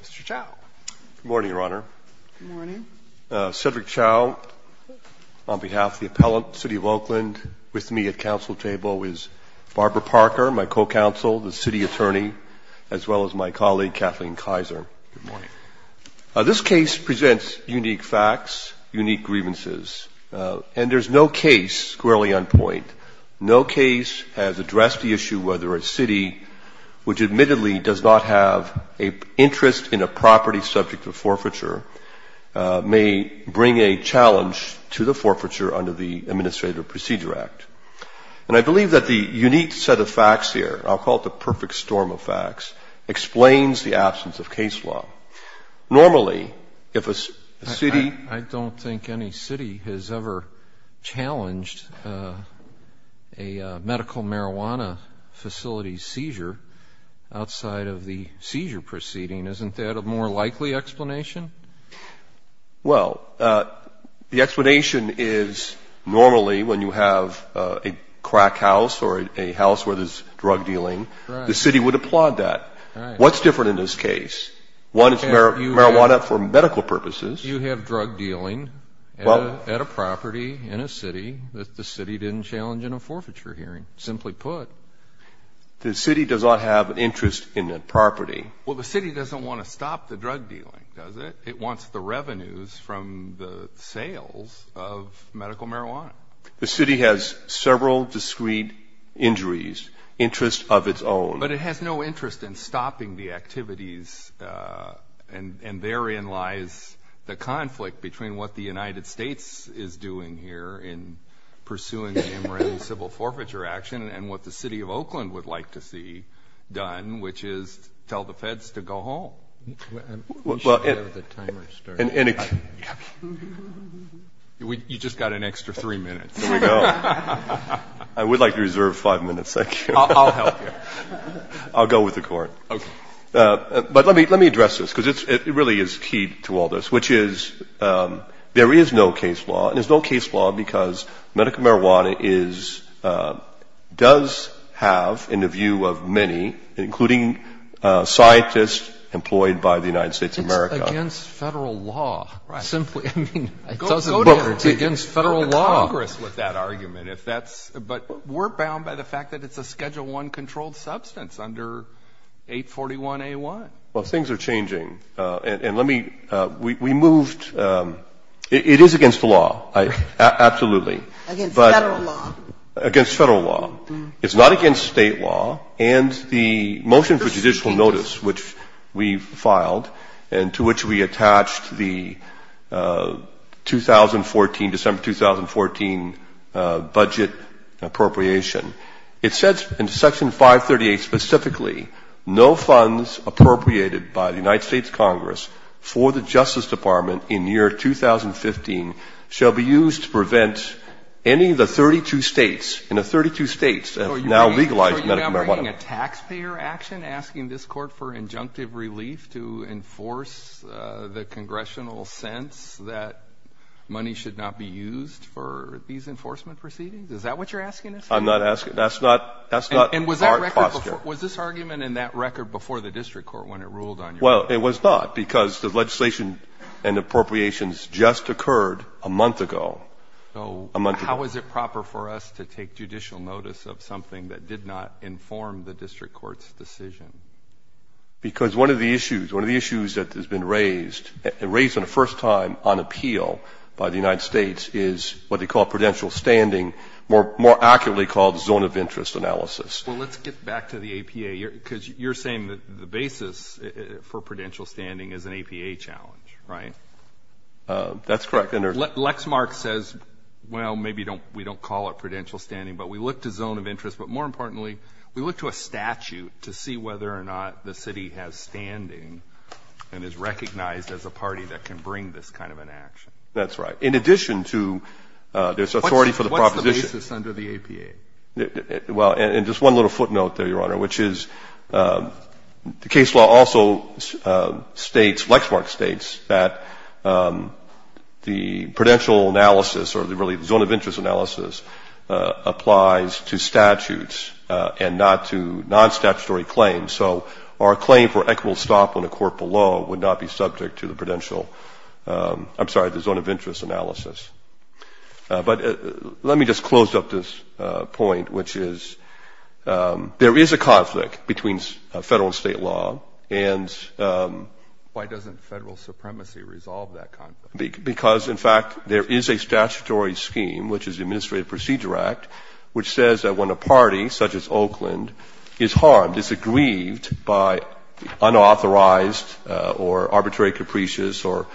Mr. Chow. Good morning, Your Honor. Good morning. Cedric Chow, on behalf of the appellant, City of Oakland. With me at council table is Barbara Parker, my co-counsel, the city attorney, as well as my colleague Kathleen Kaiser. Good morning. This case presents unique facts, unique grievances, and there's no case squarely on point. No case has addressed the issue whether a city, which admittedly does not have an interest in a property subject to forfeiture, may bring a challenge to the forfeiture under the Administrative Procedure Act. And I believe that the unique set of facts here, I'll call it the perfect storm of facts, explains the absence of case law. Normally, if a city... I don't think any city has ever challenged a medical marijuana facility seizure outside of the seizure proceeding. Isn't that a more likely explanation? Well, the explanation is normally when you have a crack house or a house where there's drug dealing, the city would applaud that. What's different in this case? One is marijuana for medical purposes. You have drug dealing at a property in a city that the city didn't challenge in a forfeiture hearing, simply put. The city does not have an interest in that property. Well, the city doesn't want to stop the drug dealing, does it? It wants the revenues from the sales of medical marijuana. The city has several discreet injuries, interests of its own. But it has no interest in stopping the activities. And therein lies the conflict between what the United States is doing here in pursuing the MREM civil forfeiture action and what the city of Oakland would like to see done, which is tell the feds to go home. We should have the timer start. You just got an extra three minutes. I would like to reserve five minutes, thank you. I'll help you. I'll go with the court. Okay. But let me address this, because it really is key to all this, which is there is no case law, and there's no case law because medical marijuana does have, in the view of many, including scientists employed by the United States of America. It's against Federal law. Right. Simply, I mean, it's against Federal law. But we're bound by the fact that it's a Schedule I controlled substance under 841A1. Well, things are changing. And let me we moved it is against the law, absolutely. Against Federal law. Against Federal law. It's not against State law. And the motion for judicial notice, which we filed, and to which we attached the 2014, December 2014 budget appropriation, it says in Section 538 specifically, no funds appropriated by the United States Congress for the Justice Department in the year 2015 shall be used to prevent any of the 32 States, in the 32 States that have now legalized medical marijuana. Are you providing a taxpayer action asking this court for injunctive relief to enforce the congressional sense that money should not be used for these enforcement proceedings? Is that what you're asking us to do? I'm not asking. That's not our posture. And was this argument in that record before the district court when it ruled on your record? Well, it was not because the legislation and appropriations just occurred a month ago. How is it proper for us to take judicial notice of something that did not inform the district court's decision? Because one of the issues, one of the issues that has been raised, and raised for the first time on appeal by the United States, is what they call prudential standing, more accurately called zone of interest analysis. Well, let's get back to the APA, because you're saying that the basis for prudential standing is an APA challenge, right? That's correct. Lexmark says, well, maybe we don't call it prudential standing, but we look to zone of interest. But more importantly, we look to a statute to see whether or not the city has standing and is recognized as a party that can bring this kind of an action. That's right. In addition to there's authority for the proposition. What's the basis under the APA? Well, and just one little footnote there, Your Honor, which is the case law also states, Lexmark states, that the prudential analysis, or really the zone of interest analysis, applies to statutes and not to non-statutory claims. So our claim for equitable stop on a court below would not be subject to the prudential, I'm sorry, the zone of interest analysis. But let me just close up this point, which is there is a conflict between Federal and State law, and why doesn't Federal supremacy resolve that conflict? Because, in fact, there is a statutory scheme, which is the Administrative Procedure Act, which says that when a party, such as Oakland, is harmed, is aggrieved by unauthorized or arbitrary, capricious or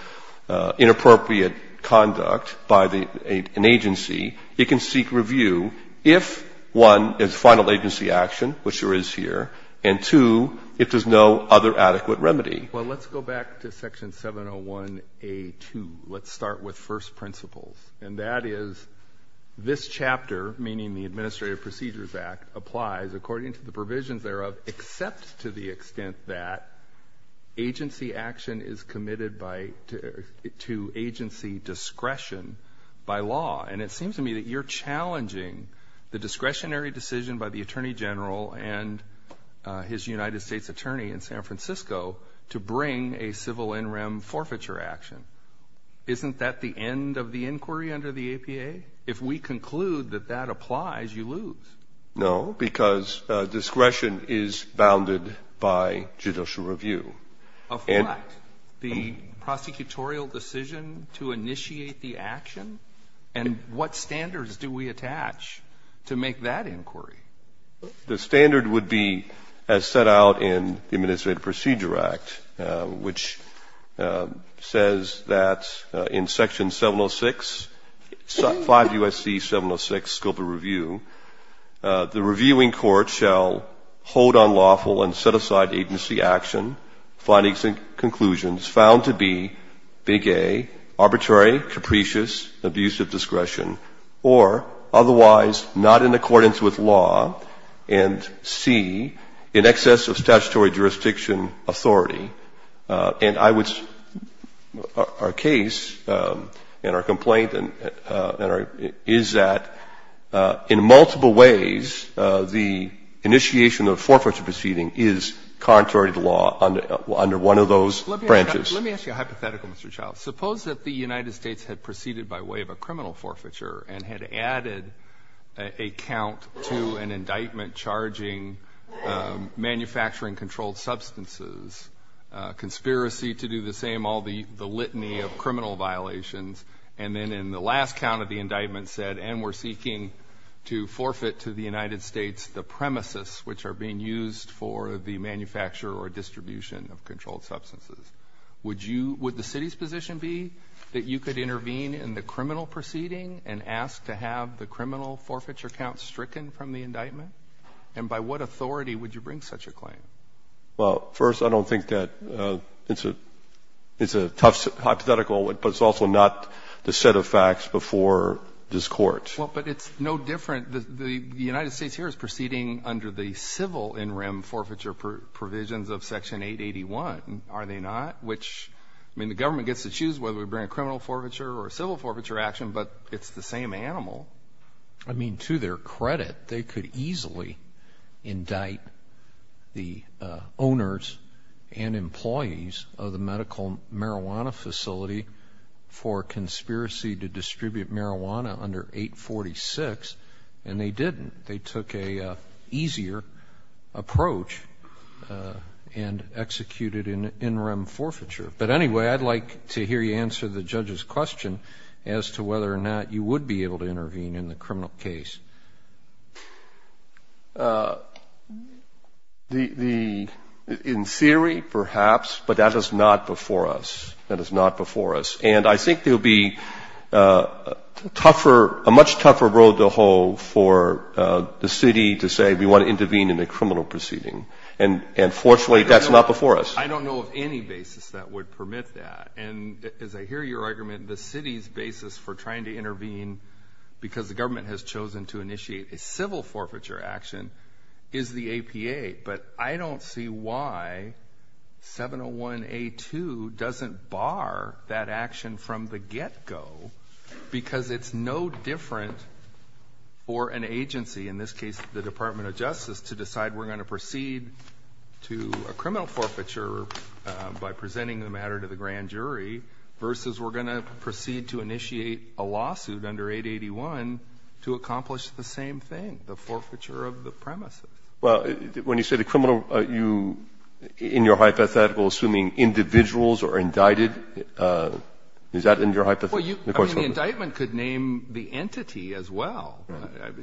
inappropriate conduct, by an agency, it can seek review if, one, there's final agency action, which there is here, and, two, if there's no other adequate remedy. Well, let's go back to Section 701A2. Let's start with first principles, and that is this chapter, meaning the Administrative Procedures Act, applies according to the provisions thereof, except to the extent that agency action is committed to agency discretion by law. And it seems to me that you're challenging the discretionary decision by the Attorney General and his United States Attorney in San Francisco to bring a civil in rem forfeiture action. Isn't that the end of the inquiry under the APA? If we conclude that that applies, you lose. No, because discretion is bounded by judicial review. Of what? The prosecutorial decision to initiate the action? And what standards do we attach to make that inquiry? The standard would be, as set out in the Administrative Procedure Act, which says that in Section 706, 5 U.S.C. 706, scope of review, the reviewing court shall hold on lawful and set aside agency action, findings and conclusions found to be, Big A, arbitrary, capricious, abuse of discretion, or otherwise not in accordance with law, and, C, in excess of statutory jurisdiction authority. And I would say our case and our complaint is that in multiple ways the initiation of a forfeiture proceeding is contrary to law under one of those branches. Let me ask you a hypothetical, Mr. Childs. Suppose that the United States had proceeded by way of a criminal forfeiture and had added a count to an indictment charging manufacturing controlled substances, conspiracy to do the same, all the litany of criminal violations, and then in the last count of the indictment said, and we're seeking to forfeit to the United States the premises which are being used for the manufacture or distribution of controlled substances. Would you, would the city's position be that you could intervene in the criminal proceeding and ask to have the criminal forfeiture count stricken from the indictment? And by what authority would you bring such a claim? Well, first, I don't think that it's a tough hypothetical, but it's also not the set of facts before this Court. Well, but it's no different. The United States here is proceeding under the civil in rem forfeiture provisions of Section 881. Are they not? Which, I mean, the government gets to choose whether we bring a criminal forfeiture or a civil forfeiture action, but it's the same animal. I mean, to their credit, they could easily indict the owners and employees of the medical marijuana facility for conspiracy to distribute marijuana under 846, and they didn't. They took an easier approach and executed an in rem forfeiture. But anyway, I'd like to hear you answer the judge's question as to whether or not you would be able to intervene in the criminal case. The, in theory, perhaps, but that is not before us. That is not before us. And I think there will be tougher, a much tougher road to hoe for the city to say we want to intervene in a criminal proceeding. And fortunately, that's not before us. I don't know of any basis that would permit that. And as I hear your argument, the city's basis for trying to intervene because the government has chosen to initiate a civil forfeiture action is the APA. But I don't see why 701A2 doesn't bar that action from the get-go because it's no different for an agency, in this case, the Department of Justice, to decide we're going to proceed to a criminal forfeiture by presenting the matter to the grand jury versus we're going to proceed to initiate a lawsuit under 881 to accomplish the same thing, the forfeiture of the premises. Well, when you say the criminal, you, in your hypothetical, assuming individuals are indicted, is that in your hypothetical? Well, you, I mean, the indictment could name the entity as well.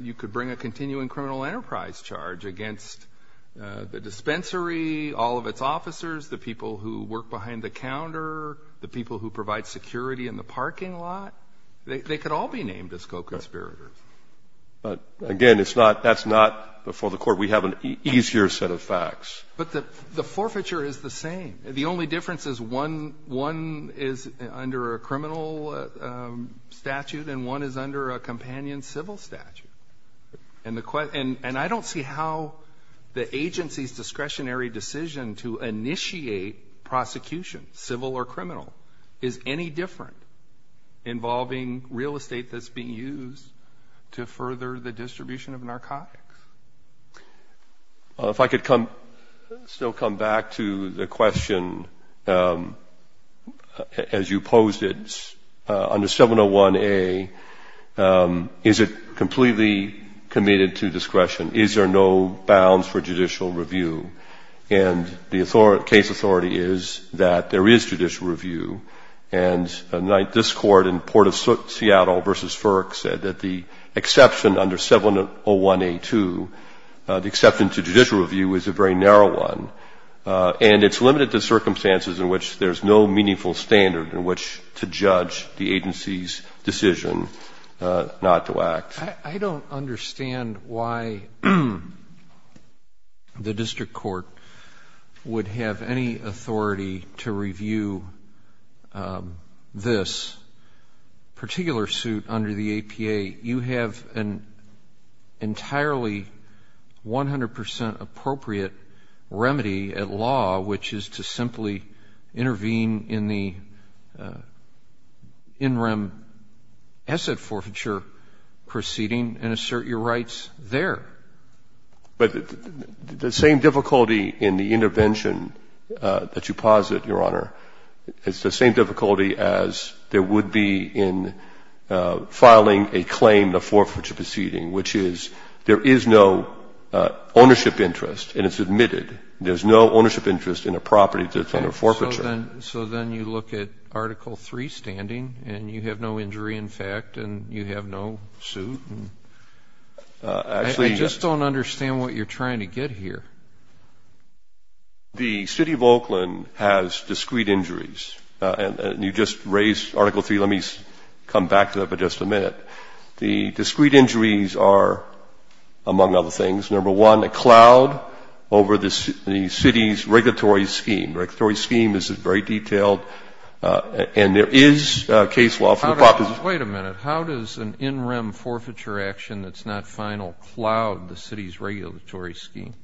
You could bring a continuing criminal enterprise charge against the dispensary, all of its officers, the people who work behind the counter, the people who provide security in the parking lot. They could all be named as co-conspirators. But, again, it's not, that's not before the court. We have an easier set of facts. But the forfeiture is the same. The only difference is one is under a criminal statute and one is under a companion civil statute. And I don't see how the agency's discretionary decision to initiate prosecution, civil or criminal, is any different involving real estate that's being used to further the distribution of narcotics. Well, if I could come, still come back to the question as you posed it. Under 701A, is it completely committed to discretion? Is there no bounds for judicial review? And the authority, case authority is that there is judicial review. And this Court in Port of Seattle v. FERC said that the exception under 701A2, the exception to judicial review is a very narrow one. And it's limited to circumstances in which there's no meaningful standard in which I don't understand why the district court would have any authority to review this particular suit under the APA. You have an entirely 100% appropriate remedy at law, which is to simply intervene in the in rem asset forfeiture proceeding and assert your rights there. But the same difficulty in the intervention that you posit, Your Honor, is the same difficulty as there would be in filing a claim in a forfeiture proceeding, which is there is no ownership interest and it's admitted. There's no ownership interest in a property that's under forfeiture. So then you look at Article 3 standing and you have no injury, in fact, and you have no suit. I just don't understand what you're trying to get here. The City of Oakland has discrete injuries. And you just raised Article 3. Let me come back to that for just a minute. The discrete injuries are, among other things, number one, a cloud over the city's regulatory scheme. The regulatory scheme is very detailed. And there is case law for the proposition. Wait a minute. How does an in rem forfeiture action that's not final cloud the city's regulatory scheme?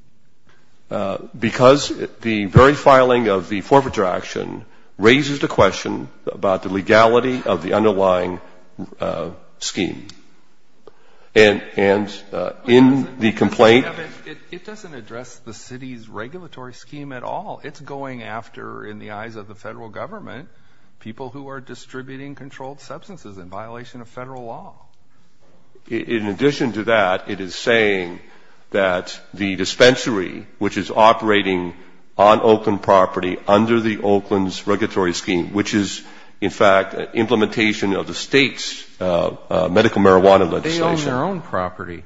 Because the very filing of the forfeiture action raises the question about the legality of the underlying scheme. And in the complaint ---- It doesn't address the city's regulatory scheme at all. It's going after, in the eyes of the Federal Government, people who are distributing controlled substances in violation of Federal law. In addition to that, it is saying that the dispensary, which is operating on Oakland property under the Oakland's regulatory scheme, which is, in fact, an implementation of the state's medical marijuana legislation. They own their own property.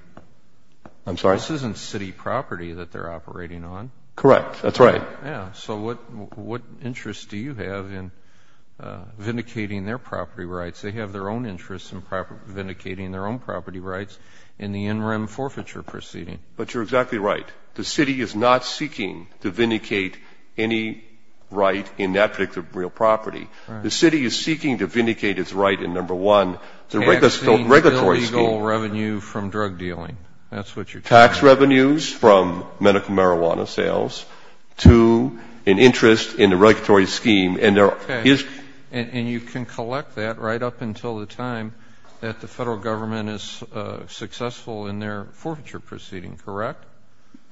I'm sorry? This isn't city property that they're operating on. Correct. That's right. Yeah. So what interest do you have in vindicating their property rights? They have their own interests in vindicating their own property rights in the in rem forfeiture proceeding. But you're exactly right. The city is not seeking to vindicate any right in that particular real property. The city is seeking to vindicate its right in, number one, the regulatory scheme. Taxing illegal revenue from drug dealing. That's what you're talking about. Tax revenues from medical marijuana sales to an interest in the regulatory scheme. And there is ---- Okay. And you can collect that right up until the time that the Federal Government is successful in their forfeiture proceeding, correct?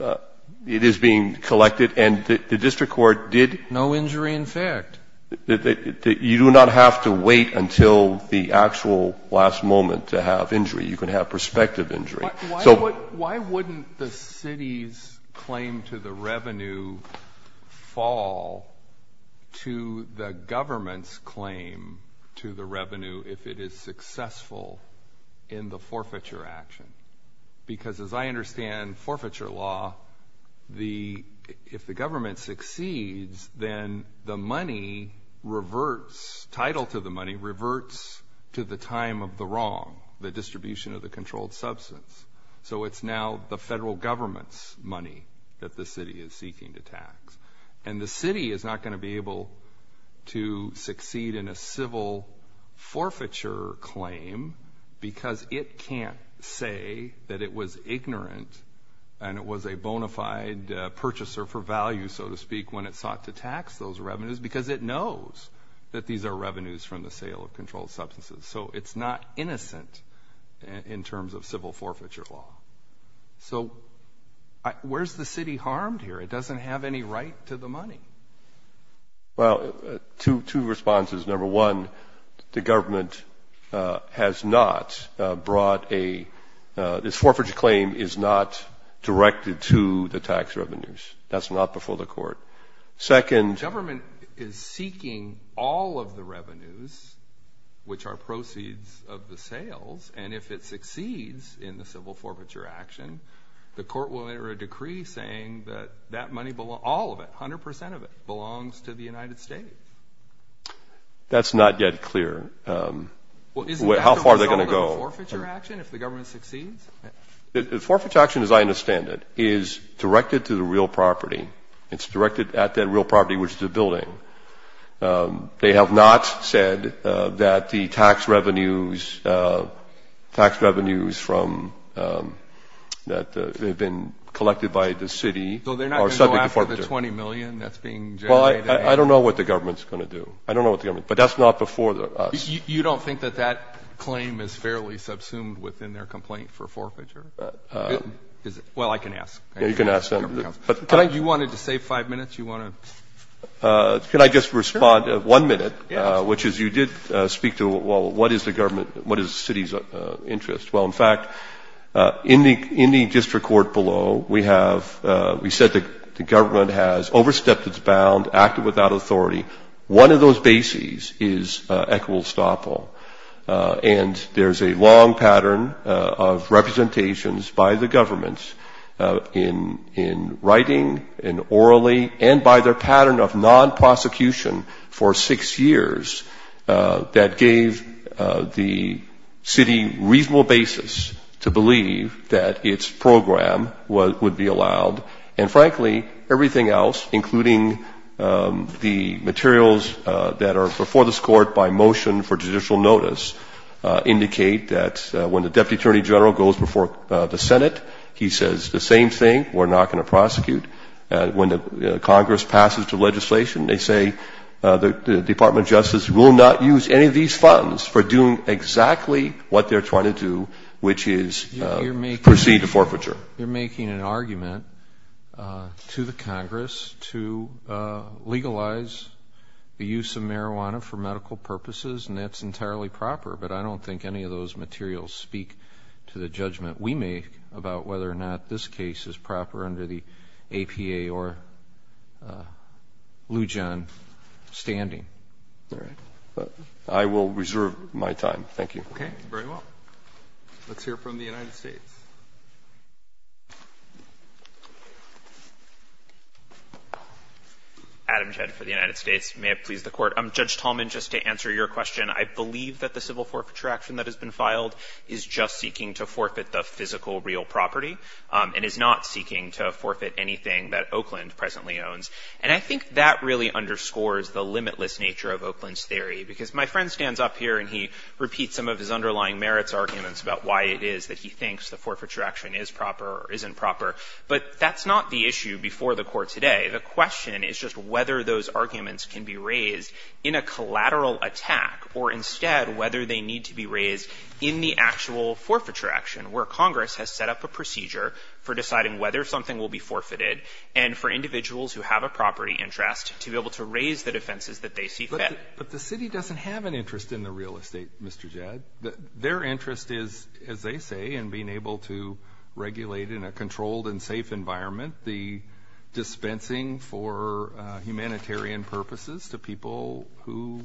It is being collected. And the district court did ---- No injury in effect. You do not have to wait until the actual last moment to have injury. You can have prospective injury. Why wouldn't the city's claim to the revenue fall to the government's claim to the revenue if it is successful in the forfeiture action? Because as I understand forfeiture law, if the government succeeds, then the money reverts, title to the money reverts to the time of the wrong, the distribution of the controlled substance. So it's now the Federal Government's money that the city is seeking to tax. And the city is not going to be able to succeed in a civil forfeiture claim because it can't say that it was ignorant and it was a bona fide purchaser for value, so to speak, when it sought to tax those revenues because it knows that these are revenues from the sale of controlled substances. So it's not innocent in terms of civil forfeiture law. So where is the city harmed here? It doesn't have any right to the money. Well, two responses. Number one, the government has not brought a ñ this forfeiture claim is not directed to the tax revenues. That's not before the court. Second ñ The government is seeking all of the revenues, which are proceeds of the sales, and if it succeeds in the civil forfeiture action, the court will enter a decree saying that that money ñ all of it, 100 percent of it ñ belongs to the United States. That's not yet clear. Well, isn't that the result of the forfeiture action if the government succeeds? The forfeiture action, as I understand it, is directed to the real property. It's directed at that real property, which is the building. They have not said that the tax revenues from ñ that they've been collected by the city are subject to forfeiture. So they're not going to go after the $20 million that's being generated? Well, I don't know what the government's going to do. I don't know what the government ñ but that's not before us. You don't think that that claim is fairly subsumed within their complaint for forfeiture? Well, I can ask. Yeah, you can ask them. You wanted to save five minutes? Can I just respond to one minute? Yeah. Which is you did speak to, well, what is the government ñ what is the city's interest? Well, in fact, in the district court below, we have ñ we said the government has overstepped its bound, acted without authority. One of those bases is equestoppel. And there's a long pattern of representations by the government in writing, in orally, and by their pattern of non-prosecution for six years that gave the city reasonable basis to believe that its program would be allowed. And, frankly, everything else, including the materials that are before this court by motion for judicial notice, indicate that when the deputy attorney general goes before the Senate, he says the same thing. We're not going to prosecute. When Congress passes the legislation, they say the Department of Justice will not use any of these funds for doing exactly what they're trying to do, which is proceed to forfeiture. You're making an argument to the Congress to legalize the use of marijuana for medical purposes, and that's entirely proper. But I don't think any of those materials speak to the judgment we make about whether or not this case is proper under the APA or Lujan standing. All right. I will reserve my time. Thank you. Okay. Very well. Let's hear from the United States. Adam Jedd for the United States. May it please the Court. Judge Tallman, just to answer your question, I believe that the civil forfeiture action that has been filed is just seeking to forfeit the physical real property and is not seeking to forfeit anything that Oakland presently owns. And I think that really underscores the limitless nature of Oakland's theory, because my friend stands up here and he repeats some of his underlying merits arguments about why it is that he thinks the forfeiture action is proper or isn't proper. But that's not the issue before the Court today. The question is just whether those arguments can be raised in a collateral attack or instead whether they need to be raised in the actual forfeiture action where Congress has set up a procedure for deciding whether something will be forfeited and for individuals who have a property interest to be able to raise the defenses that they see fit. But the city doesn't have an interest in the real estate, Mr. Jedd. Their interest is, as they say, in being able to regulate in a controlled and safe environment the dispensing for humanitarian purposes to people whose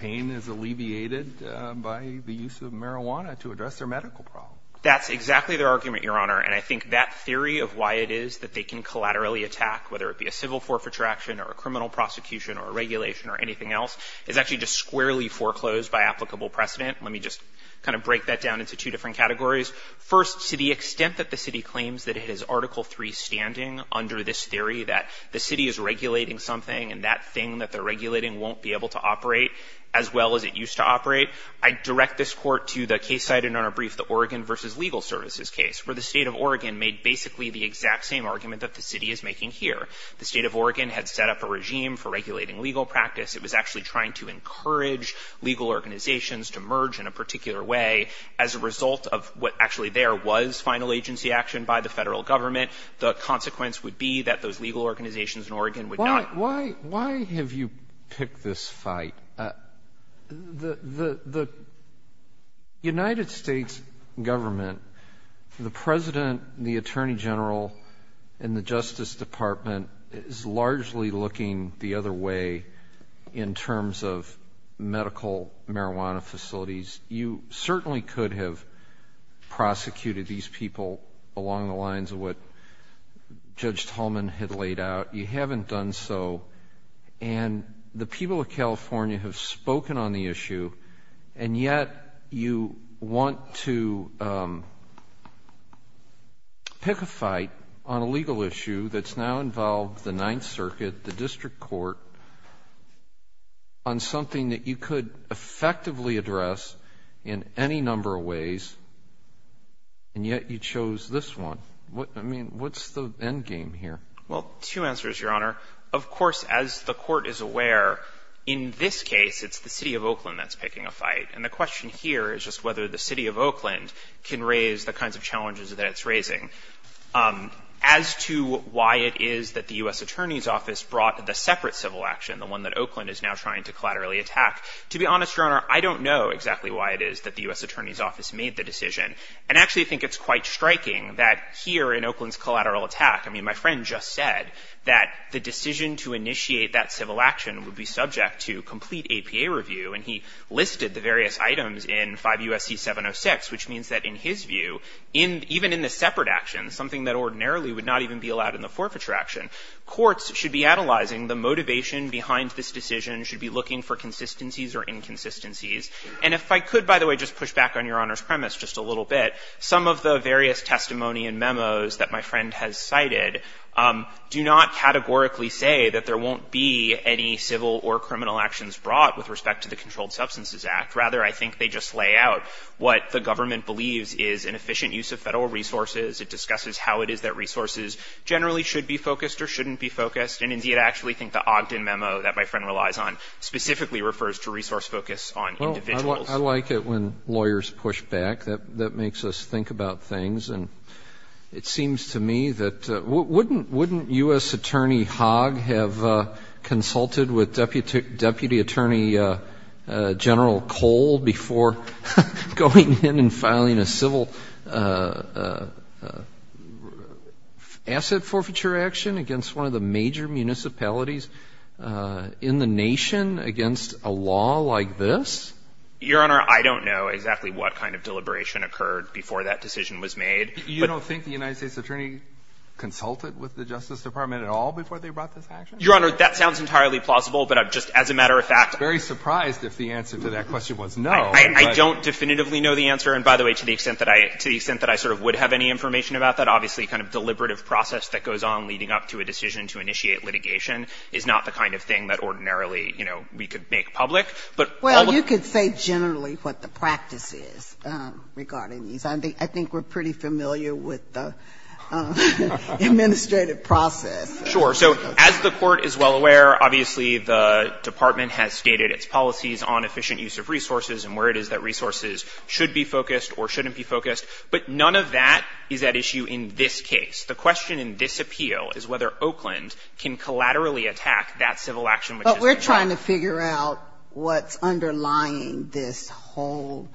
pain is alleviated by the use of marijuana to address their medical problem. That's exactly their argument, Your Honor. And I think that theory of why it is that they can collaterally attack, whether it be a civil forfeiture action or a criminal prosecution or a regulation or anything else, is actually just squarely foreclosed by applicable precedent. Let me just kind of break that down into two different categories. First, to the extent that the city claims that it is Article III standing under this theory that the city is regulating something and that thing that they're regulating won't be able to operate as well as it used to operate, I'd direct this Court to the case I did on our brief, the Oregon v. Legal Services case, where the State of Oregon made basically the exact same argument that the city is making here. The State of Oregon had set up a regime for regulating legal practice. It was actually trying to encourage legal organizations to merge in a particular way as a result of what actually there was final agency action by the federal government. The consequence would be that those legal organizations in Oregon would not Why have you picked this fight? The United States government, the President, the Attorney General, and the Justice Department is largely looking the other way in terms of medical marijuana facilities. You certainly could have prosecuted these people along the lines of what Judge Tolman had laid out. You haven't done so, and the people of California have spoken on the issue, and yet you want to pick a fight on a legal issue that's now involved the Ninth Circuit, the District Court, on something that you could effectively address in any number of ways, and yet you chose this one. I mean, what's the endgame here? Well, two answers, Your Honor. Of course, as the Court is aware, in this case, it's the City of Oakland that's picking a fight, and the question here is just whether the City of Oakland can raise the kinds of challenges that it's raising. As to why it is that the U.S. Attorney's Office brought the separate civil action, the one that Oakland is now trying to collaterally attack, to be honest, Your Honor, I don't know exactly why it is that the U.S. Attorney's Office made the decision, and I actually think it's quite striking that here in Oakland's that the decision to initiate that civil action would be subject to complete APA review. And he listed the various items in 5 U.S.C. 706, which means that in his view, even in the separate action, something that ordinarily would not even be allowed in the forfeiture action, courts should be analyzing the motivation behind this decision, should be looking for consistencies or inconsistencies. And if I could, by the way, just push back on Your Honor's premise just a little bit, some of the various testimony and memos that my friend has cited do not categorically say that there won't be any civil or criminal actions brought with respect to the Controlled Substances Act. Rather, I think they just lay out what the government believes is an efficient use of federal resources. It discusses how it is that resources generally should be focused or shouldn't be focused. And indeed, I actually think the Ogden memo that my friend relies on specifically refers to resource focus on individuals. I like it when lawyers push back. That makes us think about things. And it seems to me that wouldn't U.S. Attorney Hogg have consulted with Deputy Attorney General Cole before going in and filing a civil asset forfeiture action against one of the major municipalities in the nation against a law like this? Your Honor, I don't know exactly what kind of deliberation occurred before that decision was made. You don't think the United States Attorney consulted with the Justice Department at all before they brought this action? Your Honor, that sounds entirely plausible, but I'm just, as a matter of fact I'm very surprised if the answer to that question was no. I don't definitively know the answer. And by the way, to the extent that I sort of would have any information about that, obviously kind of deliberative process that goes on leading up to a decision to initiate litigation is not the kind of thing that ordinarily, you know, we could make public. But all of the Well, you could say generally what the practice is regarding these. I think we're pretty familiar with the administrative process. Sure. So as the Court is well aware, obviously the Department has stated its policies on efficient use of resources and where it is that resources should be focused or shouldn't be focused. But none of that is at issue in this case. The question in this appeal is whether Oakland can collaterally attack that civil action which has been filed. We're trying to figure out what's underlying this whole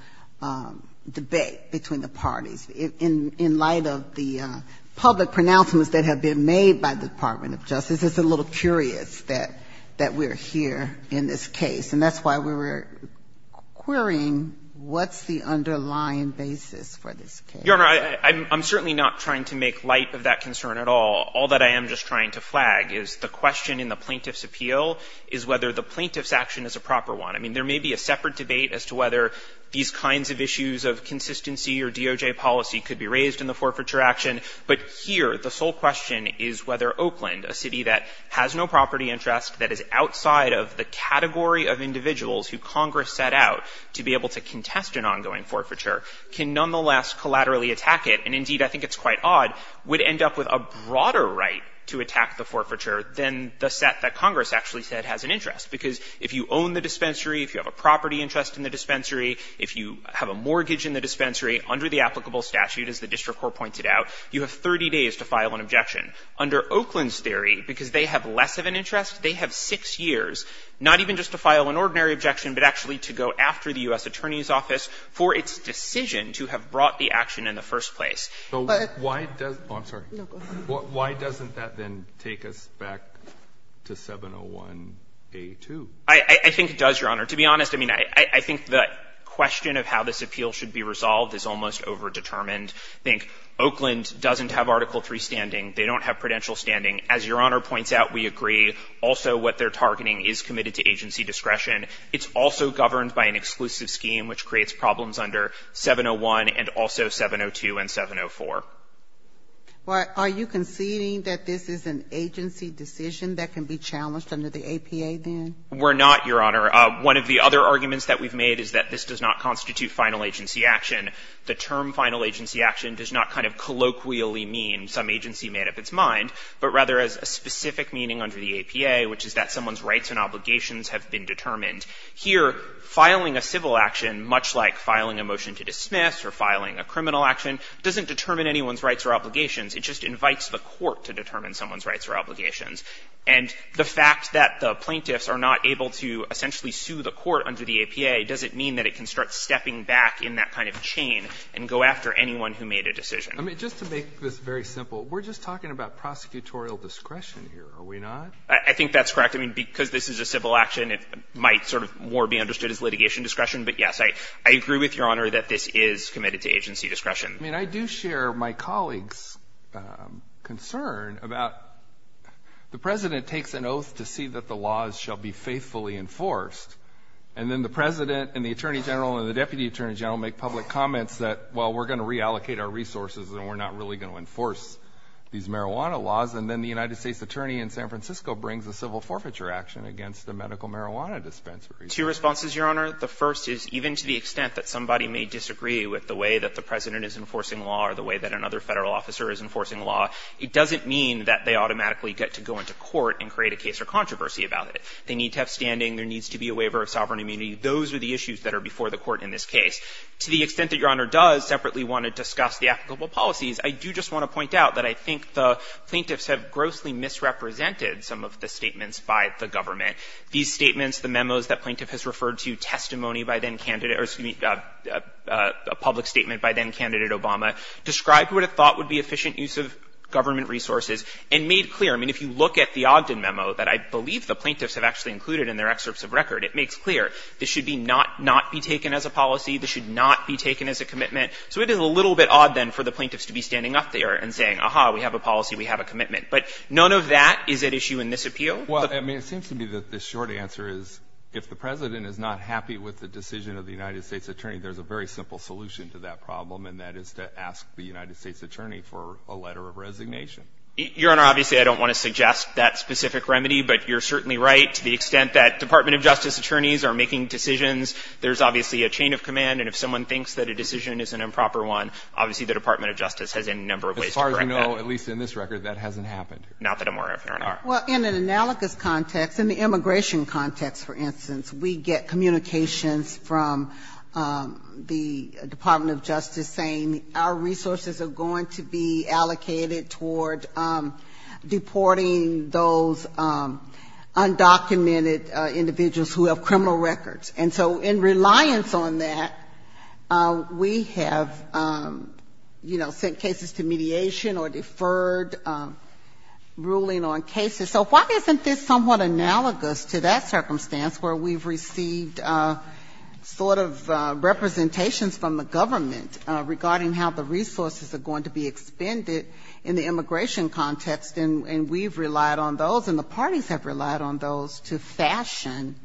debate between the parties. In light of the public pronouncements that have been made by the Department of Justice, it's a little curious that we're here in this case. And that's why we were querying what's the underlying basis for this case. Your Honor, I'm certainly not trying to make light of that concern at all. All that I am just trying to flag is the question in the plaintiff's appeal is whether the plaintiff's action is a proper one. I mean, there may be a separate debate as to whether these kinds of issues of consistency or DOJ policy could be raised in the forfeiture action. But here, the sole question is whether Oakland, a city that has no property interest that is outside of the category of individuals who Congress set out to be able to contest an ongoing forfeiture, can nonetheless collaterally attack it. And indeed, I think it's quite odd, would end up with a broader right to attack the forfeiture than the set that Congress actually said has an interest. Because if you own the dispensary, if you have a property interest in the dispensary, if you have a mortgage in the dispensary under the applicable statute, as the district court pointed out, you have 30 days to file an objection. Under Oakland's theory, because they have less of an interest, they have six years not even just to file an ordinary objection, but actually to go after the U.S. Attorney's office who have brought the action in the first place. So why does that then take us back to 701A2? I think it does, Your Honor. To be honest, I mean, I think the question of how this appeal should be resolved is almost overdetermined. I think Oakland doesn't have Article III standing. They don't have prudential standing. As Your Honor points out, we agree also what they're targeting is committed to agency discretion. It's also governed by an exclusive scheme which creates problems under 701 and also 702 and 704. Well, are you conceding that this is an agency decision that can be challenged under the APA, then? We're not, Your Honor. One of the other arguments that we've made is that this does not constitute final agency action. The term final agency action does not kind of colloquially mean some agency made up its mind, but rather has a specific meaning under the APA, which is that someone's rights or obligations have been determined. Here, filing a civil action, much like filing a motion to dismiss or filing a criminal action, doesn't determine anyone's rights or obligations. It just invites the court to determine someone's rights or obligations. And the fact that the plaintiffs are not able to essentially sue the court under the APA doesn't mean that it can start stepping back in that kind of chain and go after anyone who made a decision. I mean, just to make this very simple, we're just talking about prosecutorial discretion here, are we not? I think that's correct. I mean, because this is a civil action, it might sort of more be understood as litigation discretion. But yes, I agree with Your Honor that this is committed to agency discretion. I mean, I do share my colleague's concern about the President takes an oath to see that the laws shall be faithfully enforced, and then the President and the Attorney General and the Deputy Attorney General make public comments that, well, we're going to reallocate our resources and we're not really going to enforce these marijuana laws. And then the United States Attorney in San Francisco brings a civil forfeiture action against a medical marijuana dispensary. Two responses, Your Honor. The first is even to the extent that somebody may disagree with the way that the President is enforcing law or the way that another Federal officer is enforcing law, it doesn't mean that they automatically get to go into court and create a case or controversy about it. They need to have standing. There needs to be a waiver of sovereign immunity. Those are the issues that are before the court in this case. To the extent that Your Honor does separately want to discuss the applicable policies, I do just want to point out that I think the plaintiffs have grossly misrepresented some of the statements by the government. These statements, the memos that plaintiff has referred to, testimony by then candidate or excuse me, a public statement by then candidate Obama, described what it thought would be efficient use of government resources and made clear. I mean, if you look at the Ogden memo that I believe the plaintiffs have actually included in their excerpts of record, it makes clear this should be not, not be taken as a policy. This should not be taken as a commitment. So it is a little bit odd, then, for the plaintiffs to be standing up there and saying, aha, we have a policy, we have a commitment. But none of that is at issue in this appeal. Well, I mean, it seems to me that the short answer is if the President is not happy with the decision of the United States attorney, there's a very simple solution to that problem, and that is to ask the United States attorney for a letter of resignation. Your Honor, obviously, I don't want to suggest that specific remedy, but you're certainly right. To the extent that Department of Justice attorneys are making decisions, there's obviously a chain of command. And if someone thinks that a decision is an improper one, obviously, the Department of Justice has a number of ways to correct that. As far as we know, at least in this record, that hasn't happened. Not that I'm aware of, Your Honor. All right. Well, in an analogous context, in the immigration context, for instance, we get communications from the Department of Justice saying our resources are going to be allocated toward deporting those undocumented individuals who have criminal records. And so in reliance on that, we have, you know, sent cases to mediation or deferred ruling on cases. So why isn't this somewhat analogous to that circumstance, where we've received sort of representations from the government regarding how the resources are going to be expended in the immigration context, and we've relied on those and the parties have relied on those to fashion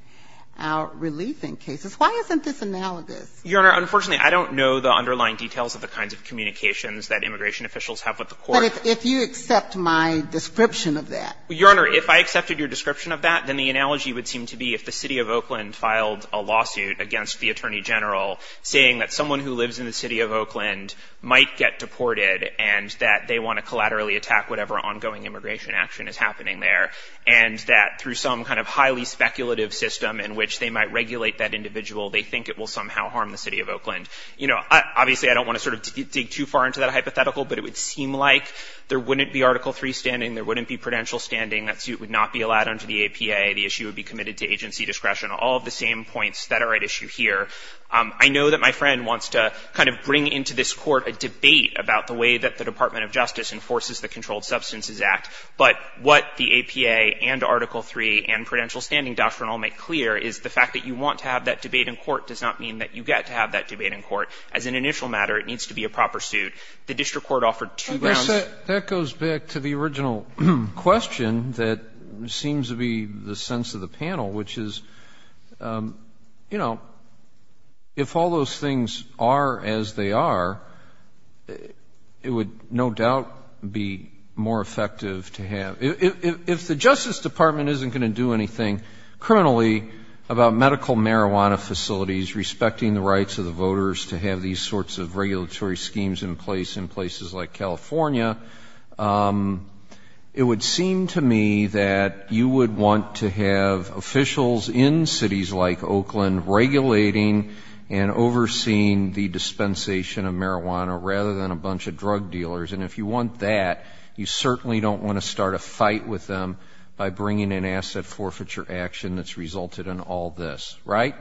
our relief in cases? Why isn't this analogous? Your Honor, unfortunately, I don't know the underlying details of the kinds of communications that immigration officials have with the court. But if you accept my description of that. Your Honor, if I accepted your description of that, then the analogy would seem to be if the City of Oakland filed a lawsuit against the Attorney General saying that someone who lives in the City of Oakland might get deported and that they want to collaterally attack whatever ongoing immigration action is happening there. And that through some kind of highly speculative system in which they might regulate that individual, they think it will somehow harm the City of Oakland. You know, obviously, I don't want to sort of dig too far into that hypothetical, but it would seem like there wouldn't be Article III standing. There wouldn't be prudential standing. That suit would not be allowed under the APA. The issue would be committed to agency discretion. All of the same points that are at issue here. I know that my friend wants to kind of bring into this court a debate about the way that the Department of Justice enforces the Controlled Substances Act. But what the APA and Article III and prudential standing doctrine all make clear is the fact that you want to have that debate in court does not mean that you get to have that debate in court. As an initial matter, it needs to be a proper suit. The district court offered two grounds. That goes back to the original question that seems to be the sense of the panel, which is, you know, if all those things are as they are, it would no doubt be more effective to have. If the Justice Department isn't going to do anything criminally about medical marijuana facilities, respecting the rights of the voters to have these sorts of regulatory schemes in place in places like California, it would seem to me that you would want to have officials in cities like Oakland regulating and overseeing the dispensation of marijuana rather than a bunch of drug dealers. And if you want that, you certainly don't want to start a fight with them by bringing in asset forfeiture action that's resulted in all this. Right?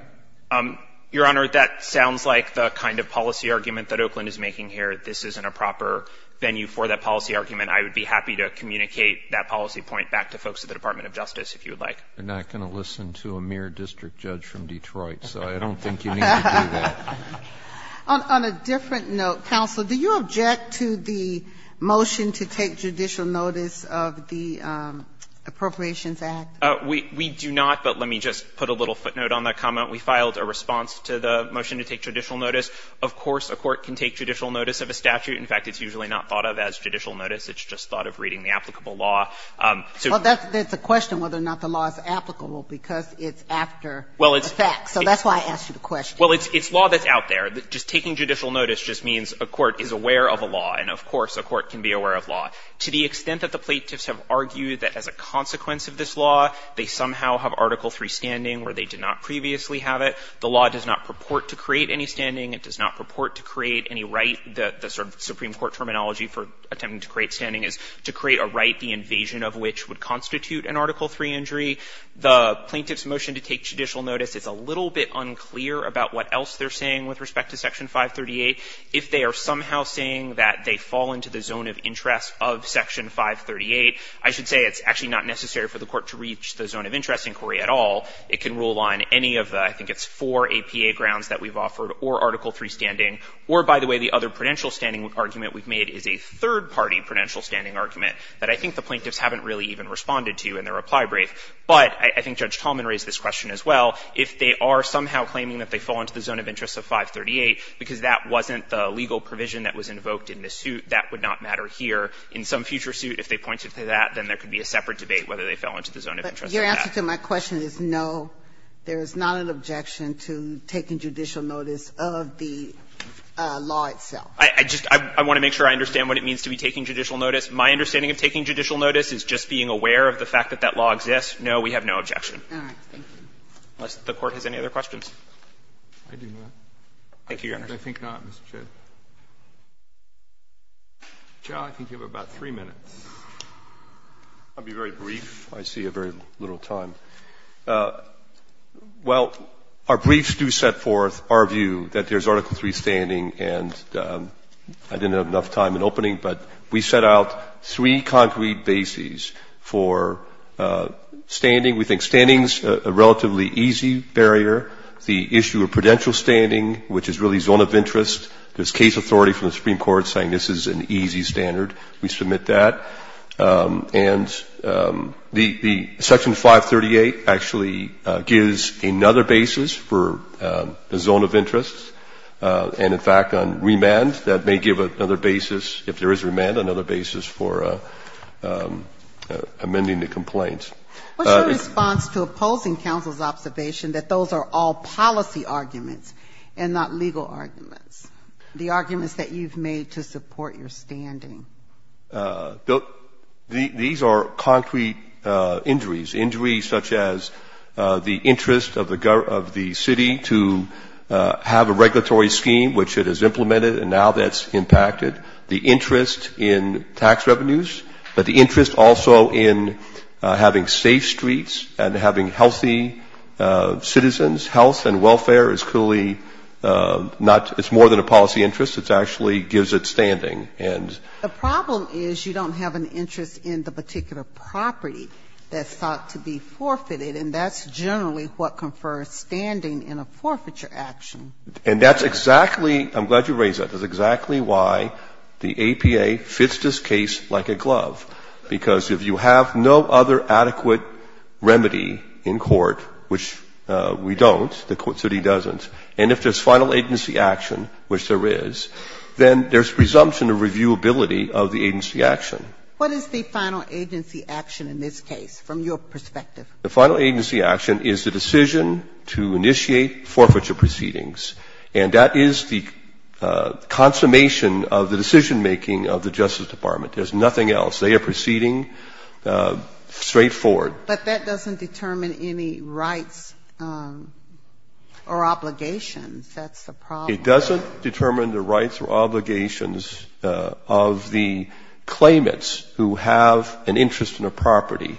Your Honor, that sounds like the kind of policy argument that Oakland is making here. This isn't a proper venue for that policy argument. I would be happy to communicate that policy point back to folks at the Department of Justice, if you would like. They're not going to listen to a mere district judge from Detroit, so I don't think you need to do that. On a different note, counsel, do you object to the motion to take judicial notice of the Appropriations Act? We do not, but let me just put a little footnote on that comment. We filed a response to the motion to take judicial notice. Of course, a court can take judicial notice of a statute. In fact, it's usually not thought of as judicial notice. It's just thought of reading the applicable law. Well, that's a question whether or not the law is applicable, because it's after the fact. So that's why I asked you the question. Well, it's law that's out there. Just taking judicial notice just means a court is aware of a law, and of course a court can be aware of law. To the extent that the plaintiffs have argued that as a consequence of this law, they somehow have Article III standing where they did not previously have it, the law does not purport to create any standing. It does not purport to create any right. The sort of Supreme Court terminology for attempting to create standing is to create a right, the invasion of which would constitute an Article III injury. The plaintiff's motion to take judicial notice is a little bit unclear about what else they're saying with respect to Section 538. If they are somehow saying that they fall into the zone of interest of Section 538, I should say it's actually not necessary for the court to reach the zone of interest inquiry at all. It can rule on any of the, I think it's four, APA grounds that we've offered or Article III standing. Or, by the way, the other prudential standing argument we've made is a third-party prudential standing argument that I think the plaintiffs haven't really even responded to in their reply brief. But I think Judge Tallman raised this question as well. If they are somehow claiming that they fall into the zone of interest of 538 because that wasn't the legal provision that was invoked in the suit, that would not matter here. In some future suit, if they pointed to that, then there could be a separate debate whether they fell into the zone of interest or not. Ginsburg-McCabe. Your answer to my question is no, there is not an objection to taking judicial notice of the law itself. I just want to make sure I understand what it means to be taking judicial notice. My understanding of taking judicial notice is just being aware of the fact that that law exists. No, we have no objection. All right. Unless the Court has any other questions. I do not. Thank you, Your Honor. I think not, Mr. Chairman. Mr. Chow, I think you have about three minutes. I'll be very brief. I see very little time. Well, our briefs do set forth our view that there is Article III standing and I didn't have enough time in opening, but we set out three concrete bases for standing. We think standing is a relatively easy barrier. The issue of prudential standing, which is really zone of interest, there is case authority from the Supreme Court saying this is an easy standard. We submit that. And the Section 538 actually gives another basis for the zone of interest. And, in fact, on remand, that may give another basis, if there is remand, another basis for amending the complaint. What's your response to opposing counsel's observation that those are all policy arguments and not legal arguments, the arguments that you've made to support your standing? These are concrete injuries, injuries such as the interest of the city to have a regulatory scheme, which it has implemented and now that's impacted, the interest in tax revenues, but the interest also in having safe streets and having healthy citizens. Health and welfare is clearly not, it's more than a policy interest. It's actually gives it standing. And the problem is you don't have an interest in the particular property that's thought to be forfeited, and that's generally what confers standing in a forfeiture action. And that's exactly, I'm glad you raised that, that's exactly why the APA fits this case like a glove, because if you have no other adequate remedy in court, which we don't, the court said it doesn't, and if there's final agency action, which there is, then there's presumption of reviewability of the agency action. What is the final agency action in this case, from your perspective? The final agency action is the decision to initiate forfeiture proceedings, and that is the consummation of the decision-making of the Justice Department. There's nothing else. They are proceeding straightforward. But that doesn't determine any rights or obligations, that's the problem. It doesn't determine the rights or obligations of the claimants who have an interest in a property,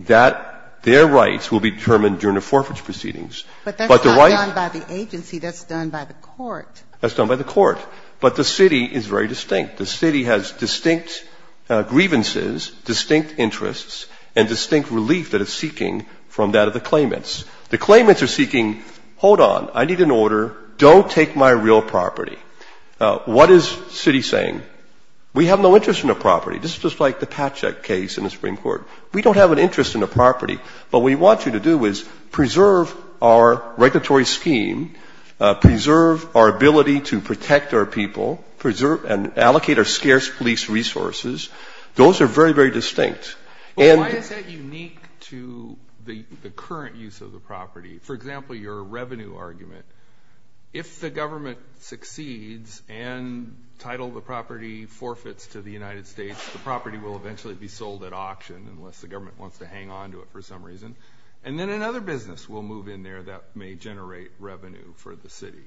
that their rights will be determined during the forfeiture proceedings. But the right to the agency, that's done by the court. That's done by the court, but the city is very distinct. The city has distinct grievances, distinct interests, and distinct relief that it's seeking from that of the claimants. The claimants are seeking, hold on, I need an order, don't take my real property. What is city saying? We have no interest in a property. This is just like the Patchak case in the Supreme Court. We don't have an interest in a property, but what we want you to do is preserve our regulatory scheme, preserve our ability to protect our people, preserve and allocate our scarce police resources. Those are very, very distinct. Why is that unique to the current use of the property? For example, your revenue argument. If the government succeeds and title the property forfeits to the United States, the property will eventually be sold at auction unless the government wants to hang on to it for some reason. And then another business will move in there that may generate revenue for the city.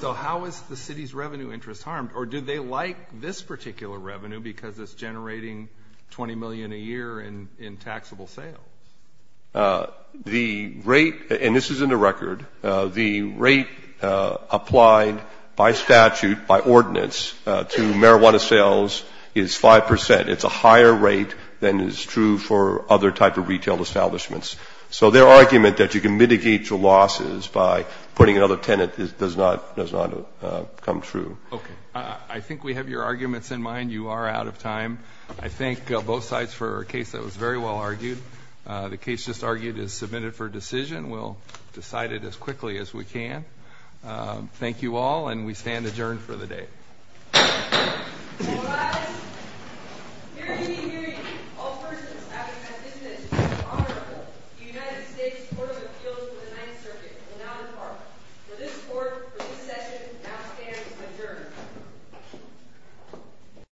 So how is the city's revenue interest harmed, or did they like this particular revenue because it's generating $20 million a year in taxable sales? The rate, and this is in the record, the rate applied by statute, by ordinance, to marijuana sales is 5%. It's a higher rate than is true for other type of retail establishments. So their argument that you can mitigate your losses by putting another tenant does not come true. Okay, I think we have your arguments in mind. You are out of time. I thank both sides for a case that was very well argued. The case just argued is submitted for decision. We'll decide it as quickly as we can. Thank you all, and we stand adjourned for the day. All rise. Hear ye, hear ye. All persons acting as witnesses in honor of the United States Court of Appeals for the Ninth Circuit will now depart. For this session, now stands adjourned.